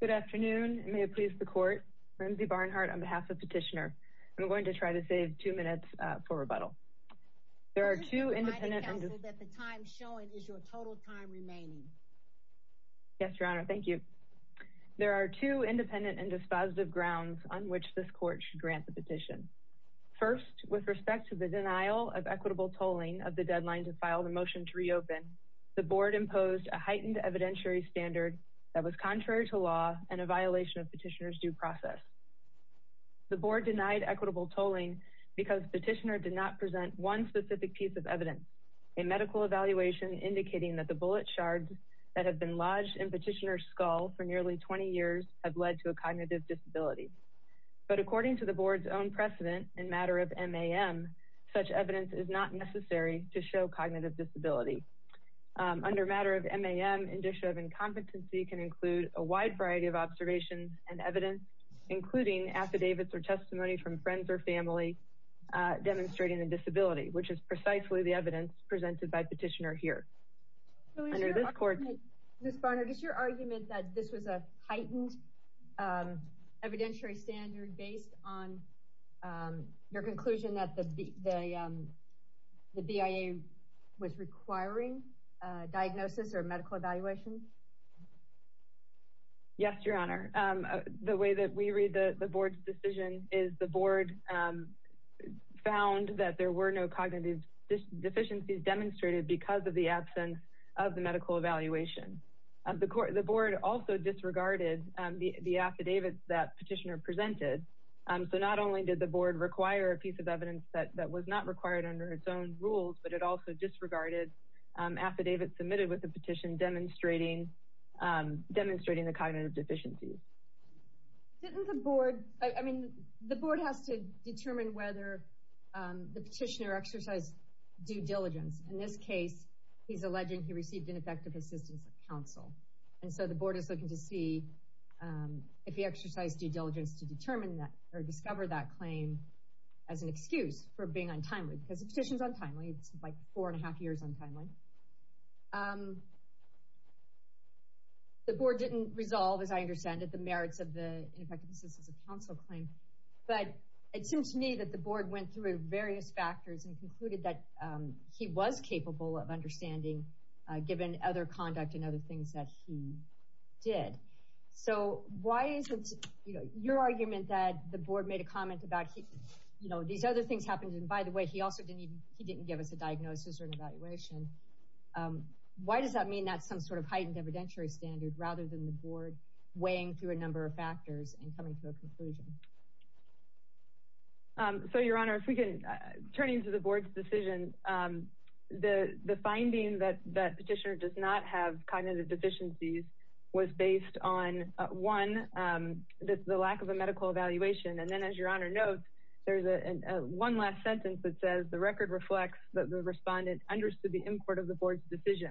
Good afternoon. May it please the court. Lindsay Barnhart on behalf of Petitioner. I'm going to try to save two minutes for rebuttal. There are two independent and the time showing is your total time remaining. Yes, Your Honor. Thank you. There are two independent and dispositive grounds on which this court should grant the petition. First, with respect to the denial of equitable tolling of the deadline to file the motion to reopen, the board imposed a heightened evidentiary standard that was contrary to law and a violation of Petitioner's due process. The board denied equitable tolling because Petitioner did not present one specific piece of evidence. A medical evaluation indicating that the bullet shards that have been lodged in Petitioner's skull for nearly 20 years have led to a cognitive disability. But according to the board's own precedent in matter of MAM, such evidence is not necessary to show cognitive disability. Under matter of MAM, indicia of incompetency can include a wide variety of observations and evidence, including affidavits or testimony from friends or family demonstrating a disability, which is precisely the evidence presented by Petitioner here. Ms. Barnhart, is your argument that this was a heightened evidentiary standard based on your conclusion that the BIA was requiring diagnosis or medical evaluation? Yes, Your Honor. The way that we read the board's decision is the board found that there were no cognitive deficiencies demonstrated because of the absence of the medical evaluation. The board also disregarded the affidavits that Petitioner presented, so not only did the board require a piece of evidence that was not required under its own rules, but it also disregarded affidavits submitted with the petition demonstrating the cognitive deficiencies. Didn't the board, I mean, the board has to determine whether the Petitioner exercised due diligence. In this case, he's alleging he received ineffective assistance of counsel. And so the board is looking to see if he exercised due diligence to determine that or discover that claim as an excuse for being untimely because the petition is untimely. It's like four and a half years untimely. The board didn't resolve, as I understand it, the merits of the ineffective assistance of counsel claim. But it seems to me that the board went through various factors and concluded that he was capable of understanding, given other conduct and other things that he did. So why is it, you know, your argument that the board made a comment about, you know, these other things happened, and by the way, he also didn't, he didn't give us a diagnosis or an evaluation. Why does that mean that's some sort of heightened evidentiary standard rather than the board weighing through a number of factors and coming to a conclusion? So, Your Honor, if we can turn into the board's decision, the finding that petitioner does not have cognitive deficiencies was based on, one, the lack of a medical evaluation. And then, as Your Honor notes, there's one last sentence that says the record reflects that the respondent understood the import of the board's decision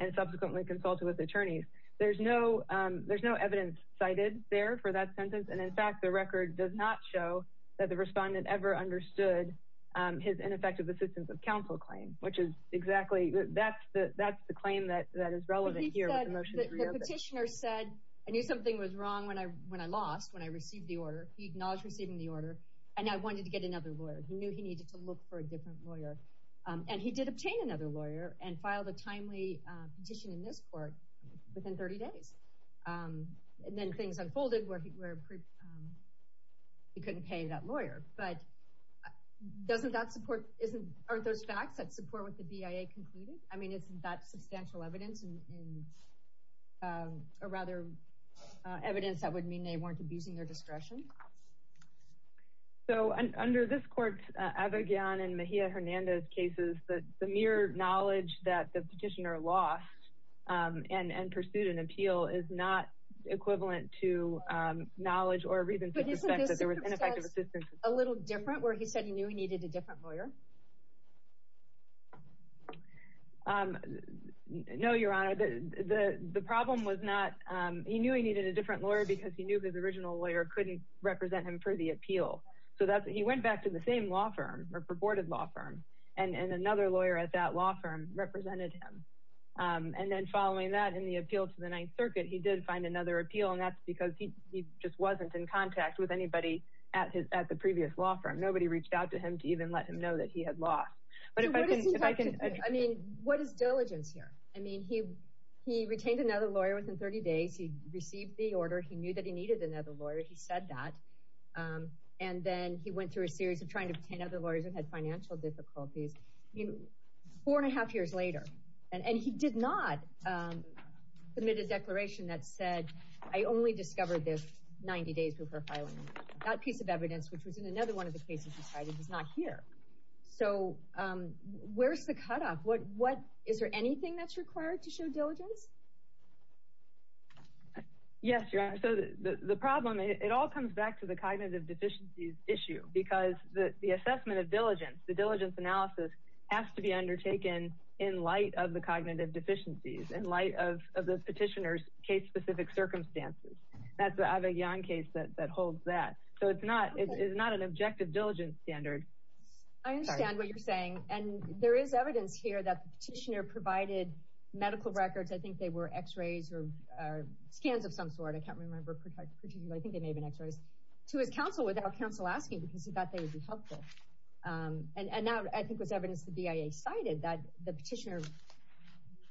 and subsequently consulted with attorneys. There's no evidence cited there for that sentence. And in fact, the record does not show that the respondent ever understood his ineffective assistance of counsel claim, which is exactly, that's the claim that is relevant here with the motion to reopen. But the petitioner said, I knew something was wrong when I lost, when I received the order. He acknowledged receiving the order, and I wanted to get another lawyer. He knew he needed to look for a different lawyer. And he did obtain another lawyer and filed a timely petition in this court within 30 days. And then things unfolded where he couldn't pay that lawyer. But doesn't that support, aren't those facts that support what the BIA concluded? I mean, isn't that substantial evidence, or rather, evidence that would mean they weren't abusing their discretion? So under this court's Abigayon and Mejia-Hernandez cases, the mere knowledge that the petitioner lost and pursued an appeal is not equivalent to knowledge or reason to suspect that there was ineffective assistance. A little different, where he said he knew he needed a different lawyer? No, Your Honor, the problem was not, he knew he needed a different lawyer, because he knew his original lawyer couldn't represent him for the appeal. So that's, he went back to the same law firm, or purported law firm, and another lawyer at that law firm represented him. And then following that, in the appeal to the Ninth Circuit, he did find another appeal. And that's because he just wasn't in contact with anybody at the previous law firm. Nobody reached out to him to even let him know that he had lost. But if I can, if I can, I mean, what is diligence here? I mean, he retained another lawyer within 30 days, he received the order, he knew that he needed another lawyer, he said that. And then he went through a series of trying to obtain other lawyers and had financial difficulties. Four and a half years later, and he did not submit a case for profiling. That piece of evidence, which was in another one of the cases he cited, is not here. So where's the cutoff? What, what, is there anything that's required to show diligence? Yes, Your Honor. So the problem, it all comes back to the cognitive deficiencies issue, because the assessment of diligence, the diligence analysis has to be undertaken in light of the cognitive deficiencies, in light of the petitioner's case-specific circumstances. That's the Avellón case that holds that. So it's not, it's not an objective diligence standard. I understand what you're saying. And there is evidence here that the petitioner provided medical records, I think they were x-rays or scans of some sort, I can't remember, I think they may have been x-rays, to his counsel without counsel asking because he thought they would be helpful. And now I cited that the petitioner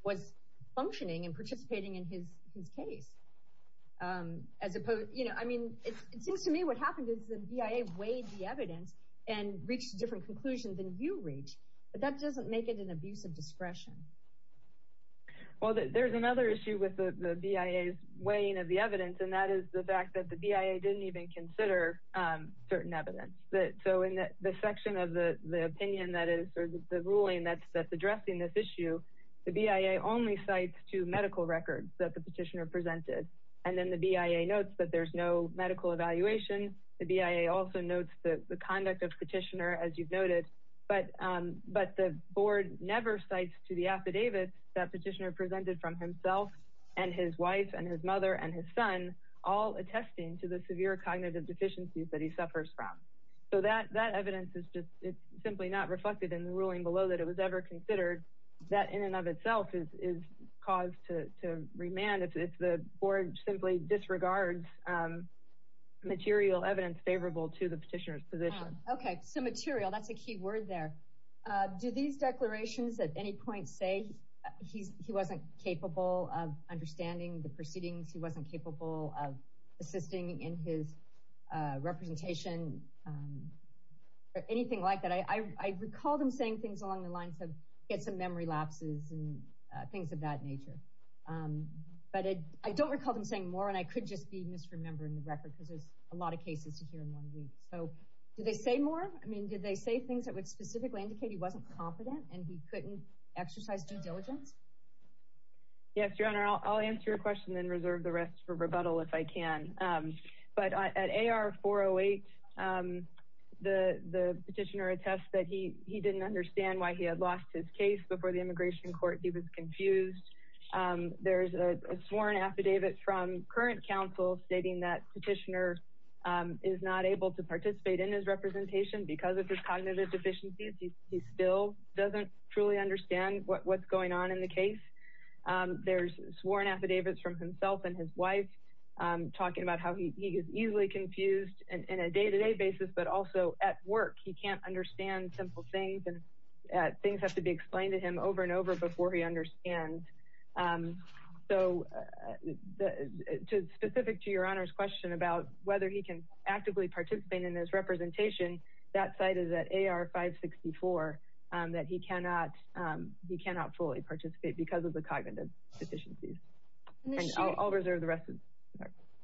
was functioning and participating in his, his case. As opposed, you know, I mean, it seems to me what happened is the BIA weighed the evidence and reached a different conclusion than you reach. But that doesn't make it an abuse of discretion. Well, there's another issue with the BIA's weighing of the evidence. And that is the fact that the BIA didn't even consider certain evidence. So in the section of the opinion that is the ruling that's that's addressing this issue, the BIA only cites two medical records that the petitioner presented. And then the BIA notes that there's no medical evaluation. The BIA also notes the conduct of petitioner as you've noted, but, but the board never cites to the affidavit that petitioner presented from himself, and his wife and his mother and his son, all attesting to the severe cognitive deficiencies that he has. It's just it's simply not reflected in the ruling below that it was ever considered that in and of itself is cause to remand if the board simply disregards material evidence favorable to the petitioner's position. Okay, so material, that's a key word there. Do these declarations at any point say he's he wasn't capable of understanding the proceedings, he wasn't representation, or anything like that? I recall them saying things along the lines of get some memory lapses and things of that nature. But I don't recall them saying more. And I could just be misremembering the record because there's a lot of cases to hear in one week. So do they say more? I mean, did they say things that would specifically indicate he wasn't confident and he couldn't exercise due diligence? Yes, Your Honor, I'll answer your question and reserve the rest for AR 408. The petitioner attests that he didn't understand why he had lost his case before the immigration court. He was confused. There's a sworn affidavit from current counsel stating that petitioner is not able to participate in his representation because of his cognitive deficiencies. He still doesn't truly understand what's going on in the case. There's sworn affidavits from himself and his wife talking about how he is easily confused in a day-to-day basis, but also at work. He can't understand simple things and things have to be explained to him over and over before he understands. So specific to Your Honor's question about whether he can actively participate in his representation, that side is at AR 564 that he cannot fully participate because of the cognitive deficiencies. I'll reserve the rest.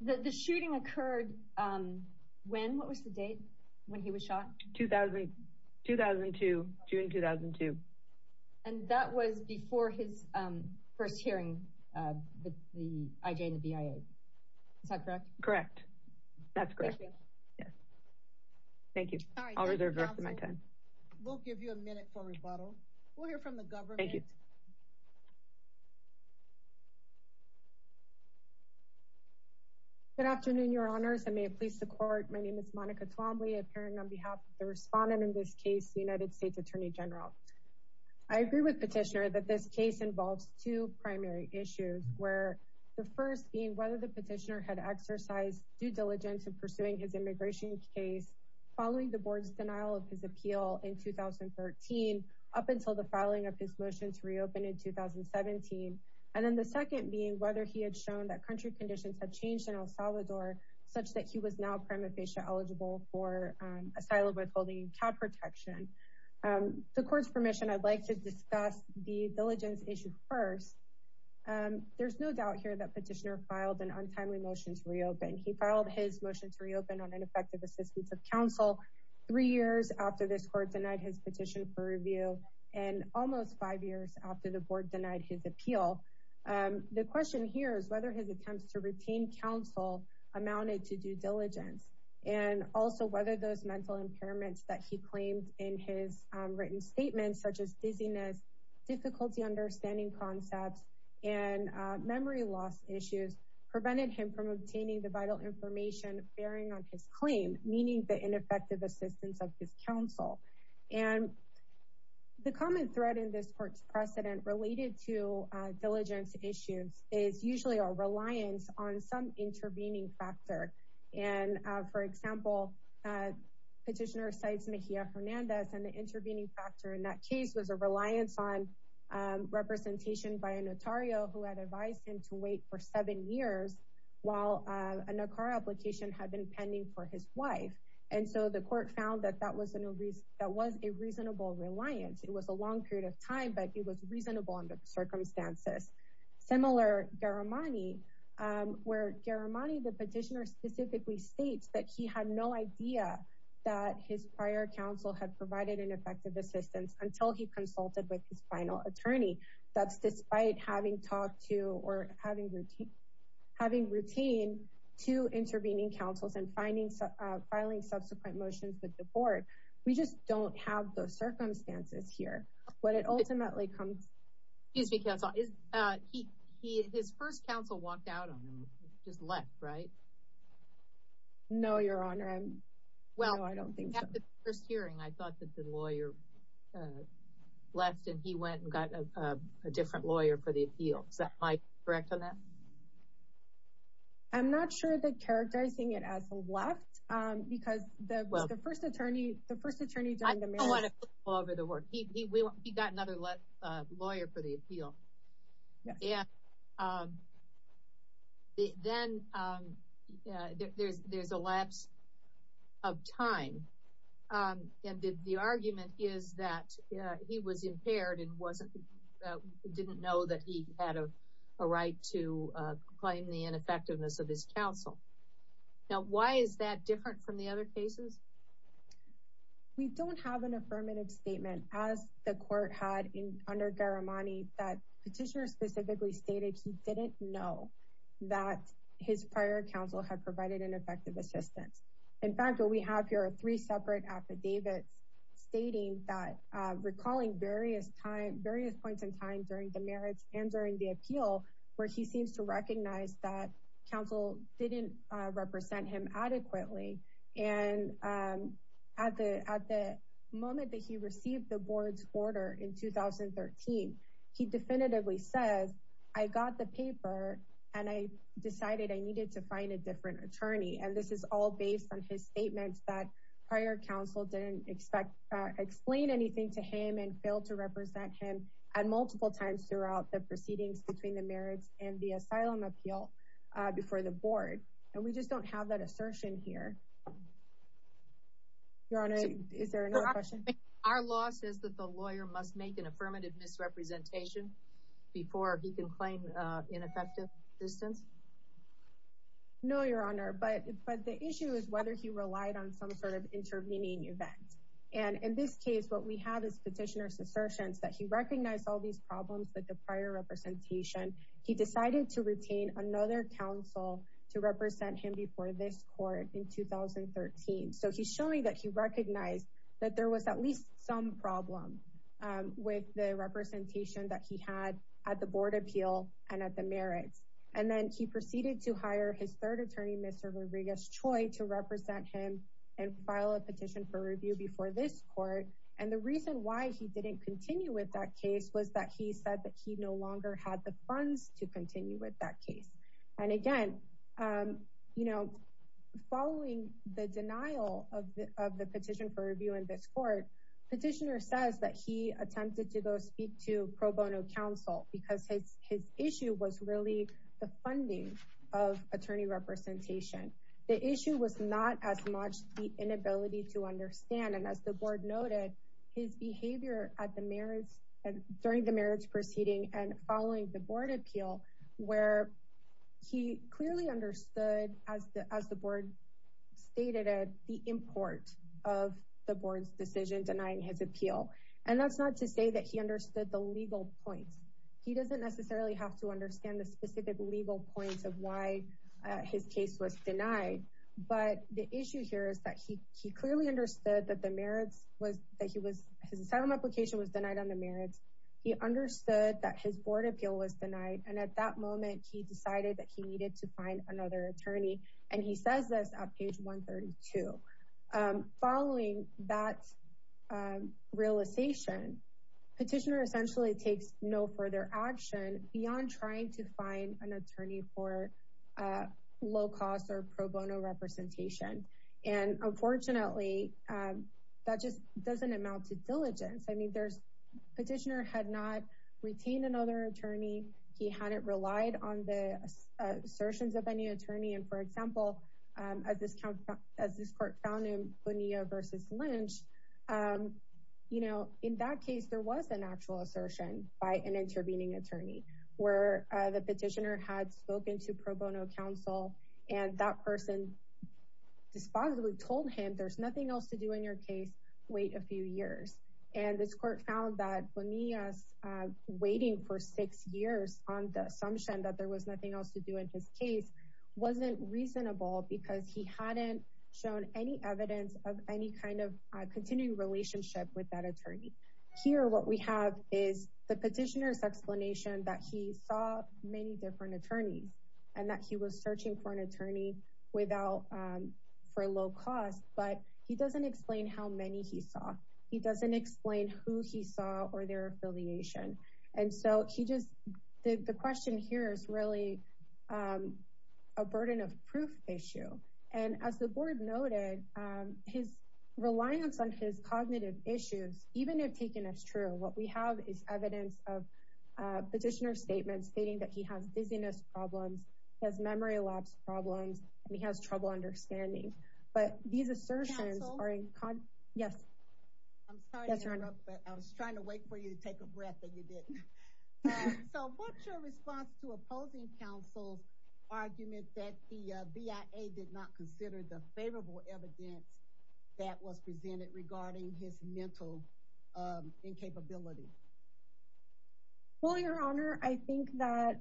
The shooting occurred when? What was the date when he was shot? 2002, June 2002. And that was before his first hearing with the IJ and the BIA. Is that correct? Correct. That's correct. Thank you. I'll reserve the rest of my time. We'll give you a minute for rebuttal. We'll hear from the government. Good afternoon, Your Honors, and may it please the court. My name is Monica Twombly, appearing on behalf of the respondent in this case, the United States Attorney General. I agree with Petitioner that this case involves two primary issues, where the first being whether the petitioner had exercised due diligence in pursuing his immigration case following the board's denial of his 2017. And then the second being whether he had shown that country conditions have changed in El Salvador, such that he was now prima facie eligible for asylum withholding and child protection. The court's permission, I'd like to discuss the diligence issue first. There's no doubt here that Petitioner filed an untimely motion to reopen. He filed his motion to reopen on ineffective assistance of counsel three years after this court denied his petition for denied his appeal. The question here is whether his attempts to retain counsel amounted to due diligence, and also whether those mental impairments that he claimed in his written statements, such as dizziness, difficulty understanding concepts and memory loss issues, prevented him from obtaining the vital information bearing on his claim, meaning the ineffective assistance of his counsel. And the common thread in this court's precedent related to diligence issues is usually a reliance on some intervening factor. And for example, Petitioner cites Mejia Fernandez and the intervening factor in that case was a reliance on representation by a notario who had advised him to wait for seven years, while a NACAR application had been pending for his wife. And so the court found that that was a reasonable reliance. It was a long period of time, but it was reasonable under the circumstances. Similar, Garamani, where Garamani, the Petitioner specifically states that he had no idea that his prior counsel had provided an effective assistance until he consulted with his final attorney. That's despite having talked to or having routine, having routine to intervening counsels and finding, filing subsequent motions with the board. We just don't have those circumstances here, but it ultimately comes. Excuse me, counsel. His first counsel walked out on him, just left, right? No, Your Honor. Well, I don't think so. After the first hearing, I thought that the lawyer left and he went and got a different lawyer for the appeal. Is that correct on that? I'm not sure that characterizing it as a left, because the first attorney, the law over the work, he got another lawyer for the appeal. Then there's a lapse of time. And the argument is that he was impaired and didn't know that he had a right to claim the ineffectiveness of his counsel. Now, why is that different from the other cases? We don't have an affirmative statement, as the court had in under Garamani, that petitioner specifically stated he didn't know that his prior counsel had provided an effective assistance. In fact, what we have here are three separate affidavits stating that recalling various points in time during the merits and during the appeal, where he seems to recognize that counsel didn't represent him adequately. And at the moment that he received the board's order in 2013, he definitively says, I got the paper and I decided I needed to find a different attorney. And this is all based on his statements that prior counsel didn't explain anything to him and failed to represent him at multiple times throughout the proceedings between the merits and the asylum appeal before the board. And we just don't have that assertion here. Your Honor, is there another question? Our law says that the lawyer must make an affirmative misrepresentation before he can claim ineffective assistance? No, Your Honor, but the issue is whether he relied on some sort of intervening event. And in this case, what we have is petitioner's assertions that he recognized all these problems with the prior representation. He decided to retain another counsel to represent him before this court in 2013. So he's showing that he recognized that there was at least some problem with the representation that he had at the board appeal and at the merits. And then he proceeded to hire his third attorney, Mr. Rodriguez Choi, to represent him and file a petition for review before this court. And the reason why he didn't continue with that case was that he said that he no longer had the funds to continue with that case. And again, you know, following the denial of the petition for review in this court, petitioner says that he attempted to go speak to pro bono counsel because his issue was really the funding of attorney representation. The issue was not as much the inability to understand and as the board noted, his behavior at the merits and during the merits proceeding and following the board appeal, where he clearly understood as the as the board stated at the import of the board's decision denying his appeal. And that's not to say that he understood the legal points. He doesn't necessarily have to understand the specific legal points of why his case was denied. But the issue here is that he he clearly understood that the merits was that he was his asylum application was denied on the merits. He understood that his board appeal was denied. And at that moment, he decided that he needed to find another attorney. And he says this on page 132. Following that realization, petitioner essentially takes no further action beyond trying to find an attorney for low cost or pro bono representation. And unfortunately, that just doesn't amount to diligence. I mean, there's petitioner had not retained another attorney, he hadn't relied on the assertions of any attorney. And for example, as this as this court found him Bonilla versus Lynch. You know, in that case, there was an actual assertion by an intervening attorney, where the petitioner had spoken to pro bono counsel, and that person disposably told him there's nothing else to do in your case, wait a few years. And this court found that when he was waiting for six years on the assumption that there was nothing else to do in his case, wasn't reasonable because he hadn't shown any evidence of any kind of continuing relationship with that attorney. Here, what we have is the petitioner's explanation that he saw many different attorneys, and that he was searching for an attorney without for low cost, but he doesn't explain how many he saw. He doesn't explain who he saw or their affiliation. And so he just did the question here is really a burden of proof issue. And as the board noted, his reliance on his cognitive issues, even if taken as true, what we have is evidence of petitioner statements stating that he has dizziness problems, has memory lapse problems, and he has trouble understanding. But these assertions are in con yes. I'm sorry, I was trying to wait for you to take a breath and you didn't. So what's your response to opposing counsel's argument that the BIA did not incapability? Well, Your Honor, I think that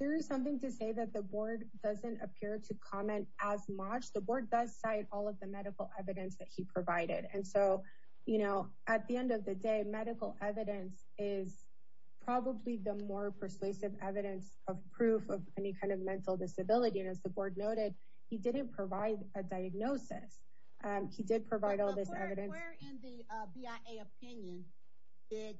there is something to say that the board doesn't appear to comment as much the board does cite all of the medical evidence that he provided. And so, you know, at the end of the day, medical evidence is probably the more persuasive evidence of proof of any kind of mental disability. And as the board noted, he didn't provide a diagnosis. He did provide all this evidence. Where in the BIA opinion did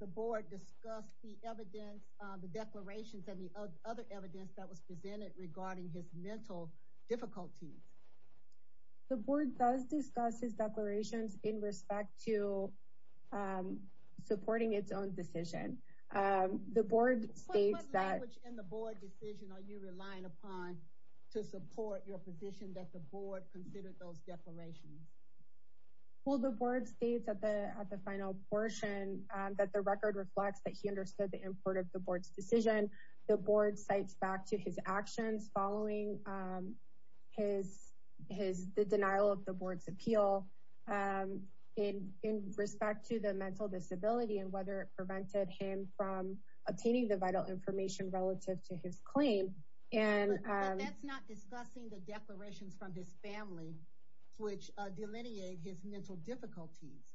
the board discuss the evidence, the declarations and the other evidence that was presented regarding his mental difficulties? The board does discuss his declarations in respect to supporting its own decision. The board states that... What language in the board decision are you relying upon to support your position that the board considered those declarations? Well, the board states at the at the final portion that the record reflects that he understood the import of the board's decision. The board cites back to his actions following his his the denial of the board's appeal in in respect to the mental disability and whether it prevented him from obtaining the vital information relative to his claim. And that's not discussing the declarations from this family, which delineate his mental difficulties.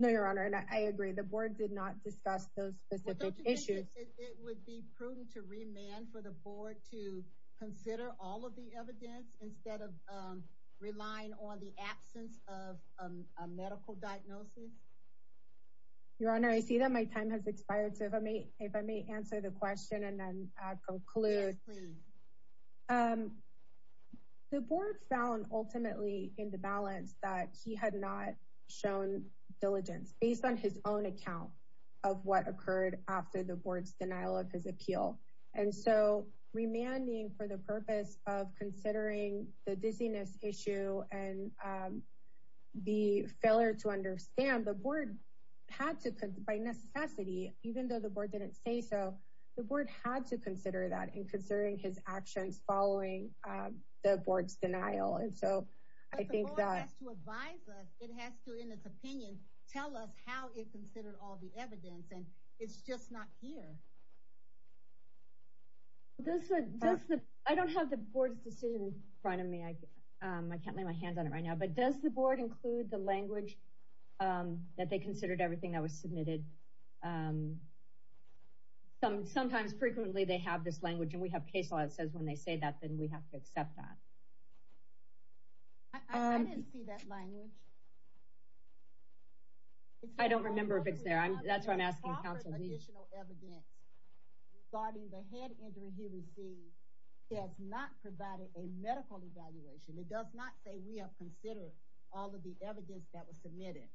No, Your Honor, and I agree, the board did not discuss those specific issues. It would be prudent to remand for the board to consider all of the evidence instead of relying on the absence of a medical diagnosis. Your Honor, I see that my time has expired. So if I may, if I may answer the question and then conclude. The board found ultimately in the balance that he had not shown diligence based on his own account of what occurred after the board's denial of his appeal. And so remanding for the purpose of considering the dizziness issue and the failure to understand the board had to, by necessity, even though the board didn't say so, the board had to consider that in considering his actions following the board's denial. And so I think that has to advise us. It has to, in its opinion, tell us how it considered all the evidence. And it's just not here. This is just that I don't have the board's decision in front of me. I can't lay my hands on it right now. But does the board include the language that they considered everything that was sometimes frequently they have this language and we have case law that says when they say that, then we have to accept that. I didn't see that language. I don't remember if it's there. I'm that's what I'm asking counsel. Additional evidence regarding the head injury he received has not provided a medical evaluation. It does not say we have considered all of the evidence that was submitted.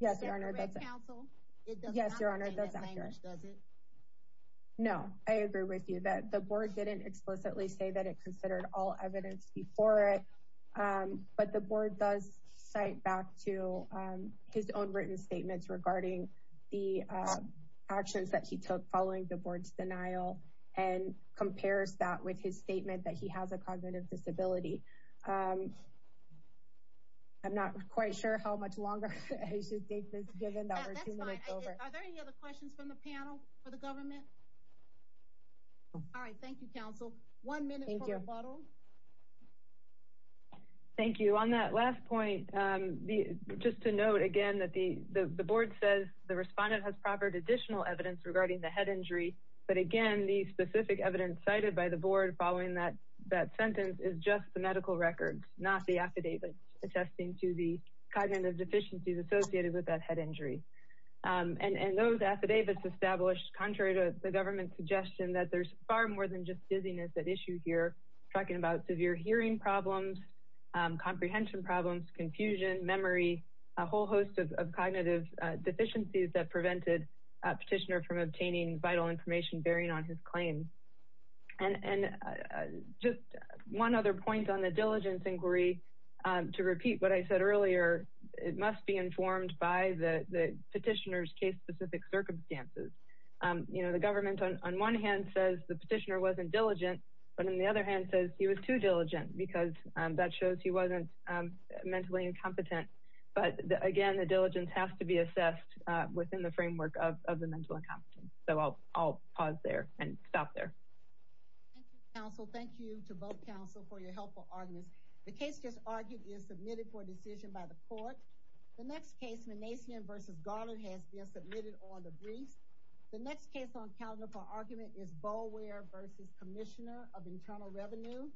Yes, Your Honor, that's a counsel. Yes, Your Honor, that's accurate. Does it? No, I agree with you that the board didn't explicitly say that it considered all evidence before it, but the board does cite back to his own written statements regarding the actions that he took following the board's denial and compares that with his statement that he has a cognitive disability. I'm not quite sure how much longer I should take this, given that we're two That's fine. Are there any other questions from the panel for the government? All right. Thank you, counsel. Thank you. One minute for rebuttal. Thank you. On that last point, just to note again that the board says the respondent has proffered additional evidence regarding the head injury, but again, the specific evidence cited by the board following that sentence is just the medical records, not the affidavits attesting to the cognitive deficiencies associated with that head injury. And those affidavits established contrary to the government's suggestion that there's far more than just dizziness at issue here, talking about severe hearing problems, comprehension problems, confusion, memory, a whole host of cognitive deficiencies that prevented a petitioner from obtaining vital information bearing on his claim. And just one other point on the diligence inquiry, to repeat what I said earlier, it must be informed by the petitioner's case-specific circumstances. The government on one hand says the petitioner wasn't diligent, but on the other hand says he was too diligent because that shows he wasn't mentally incompetent. But again, the diligence has to be assessed within the framework of the mental incompetence. So I'll pause there and stop there. Thank you, counsel. Thank you to both counsel for your helpful arguments. The case just argued is submitted for decision by the court. The next case, Manassian v. Garland, has been submitted on the briefs. The next case on calendar for argument is Boulware v. Commissioner of Internal Revenue.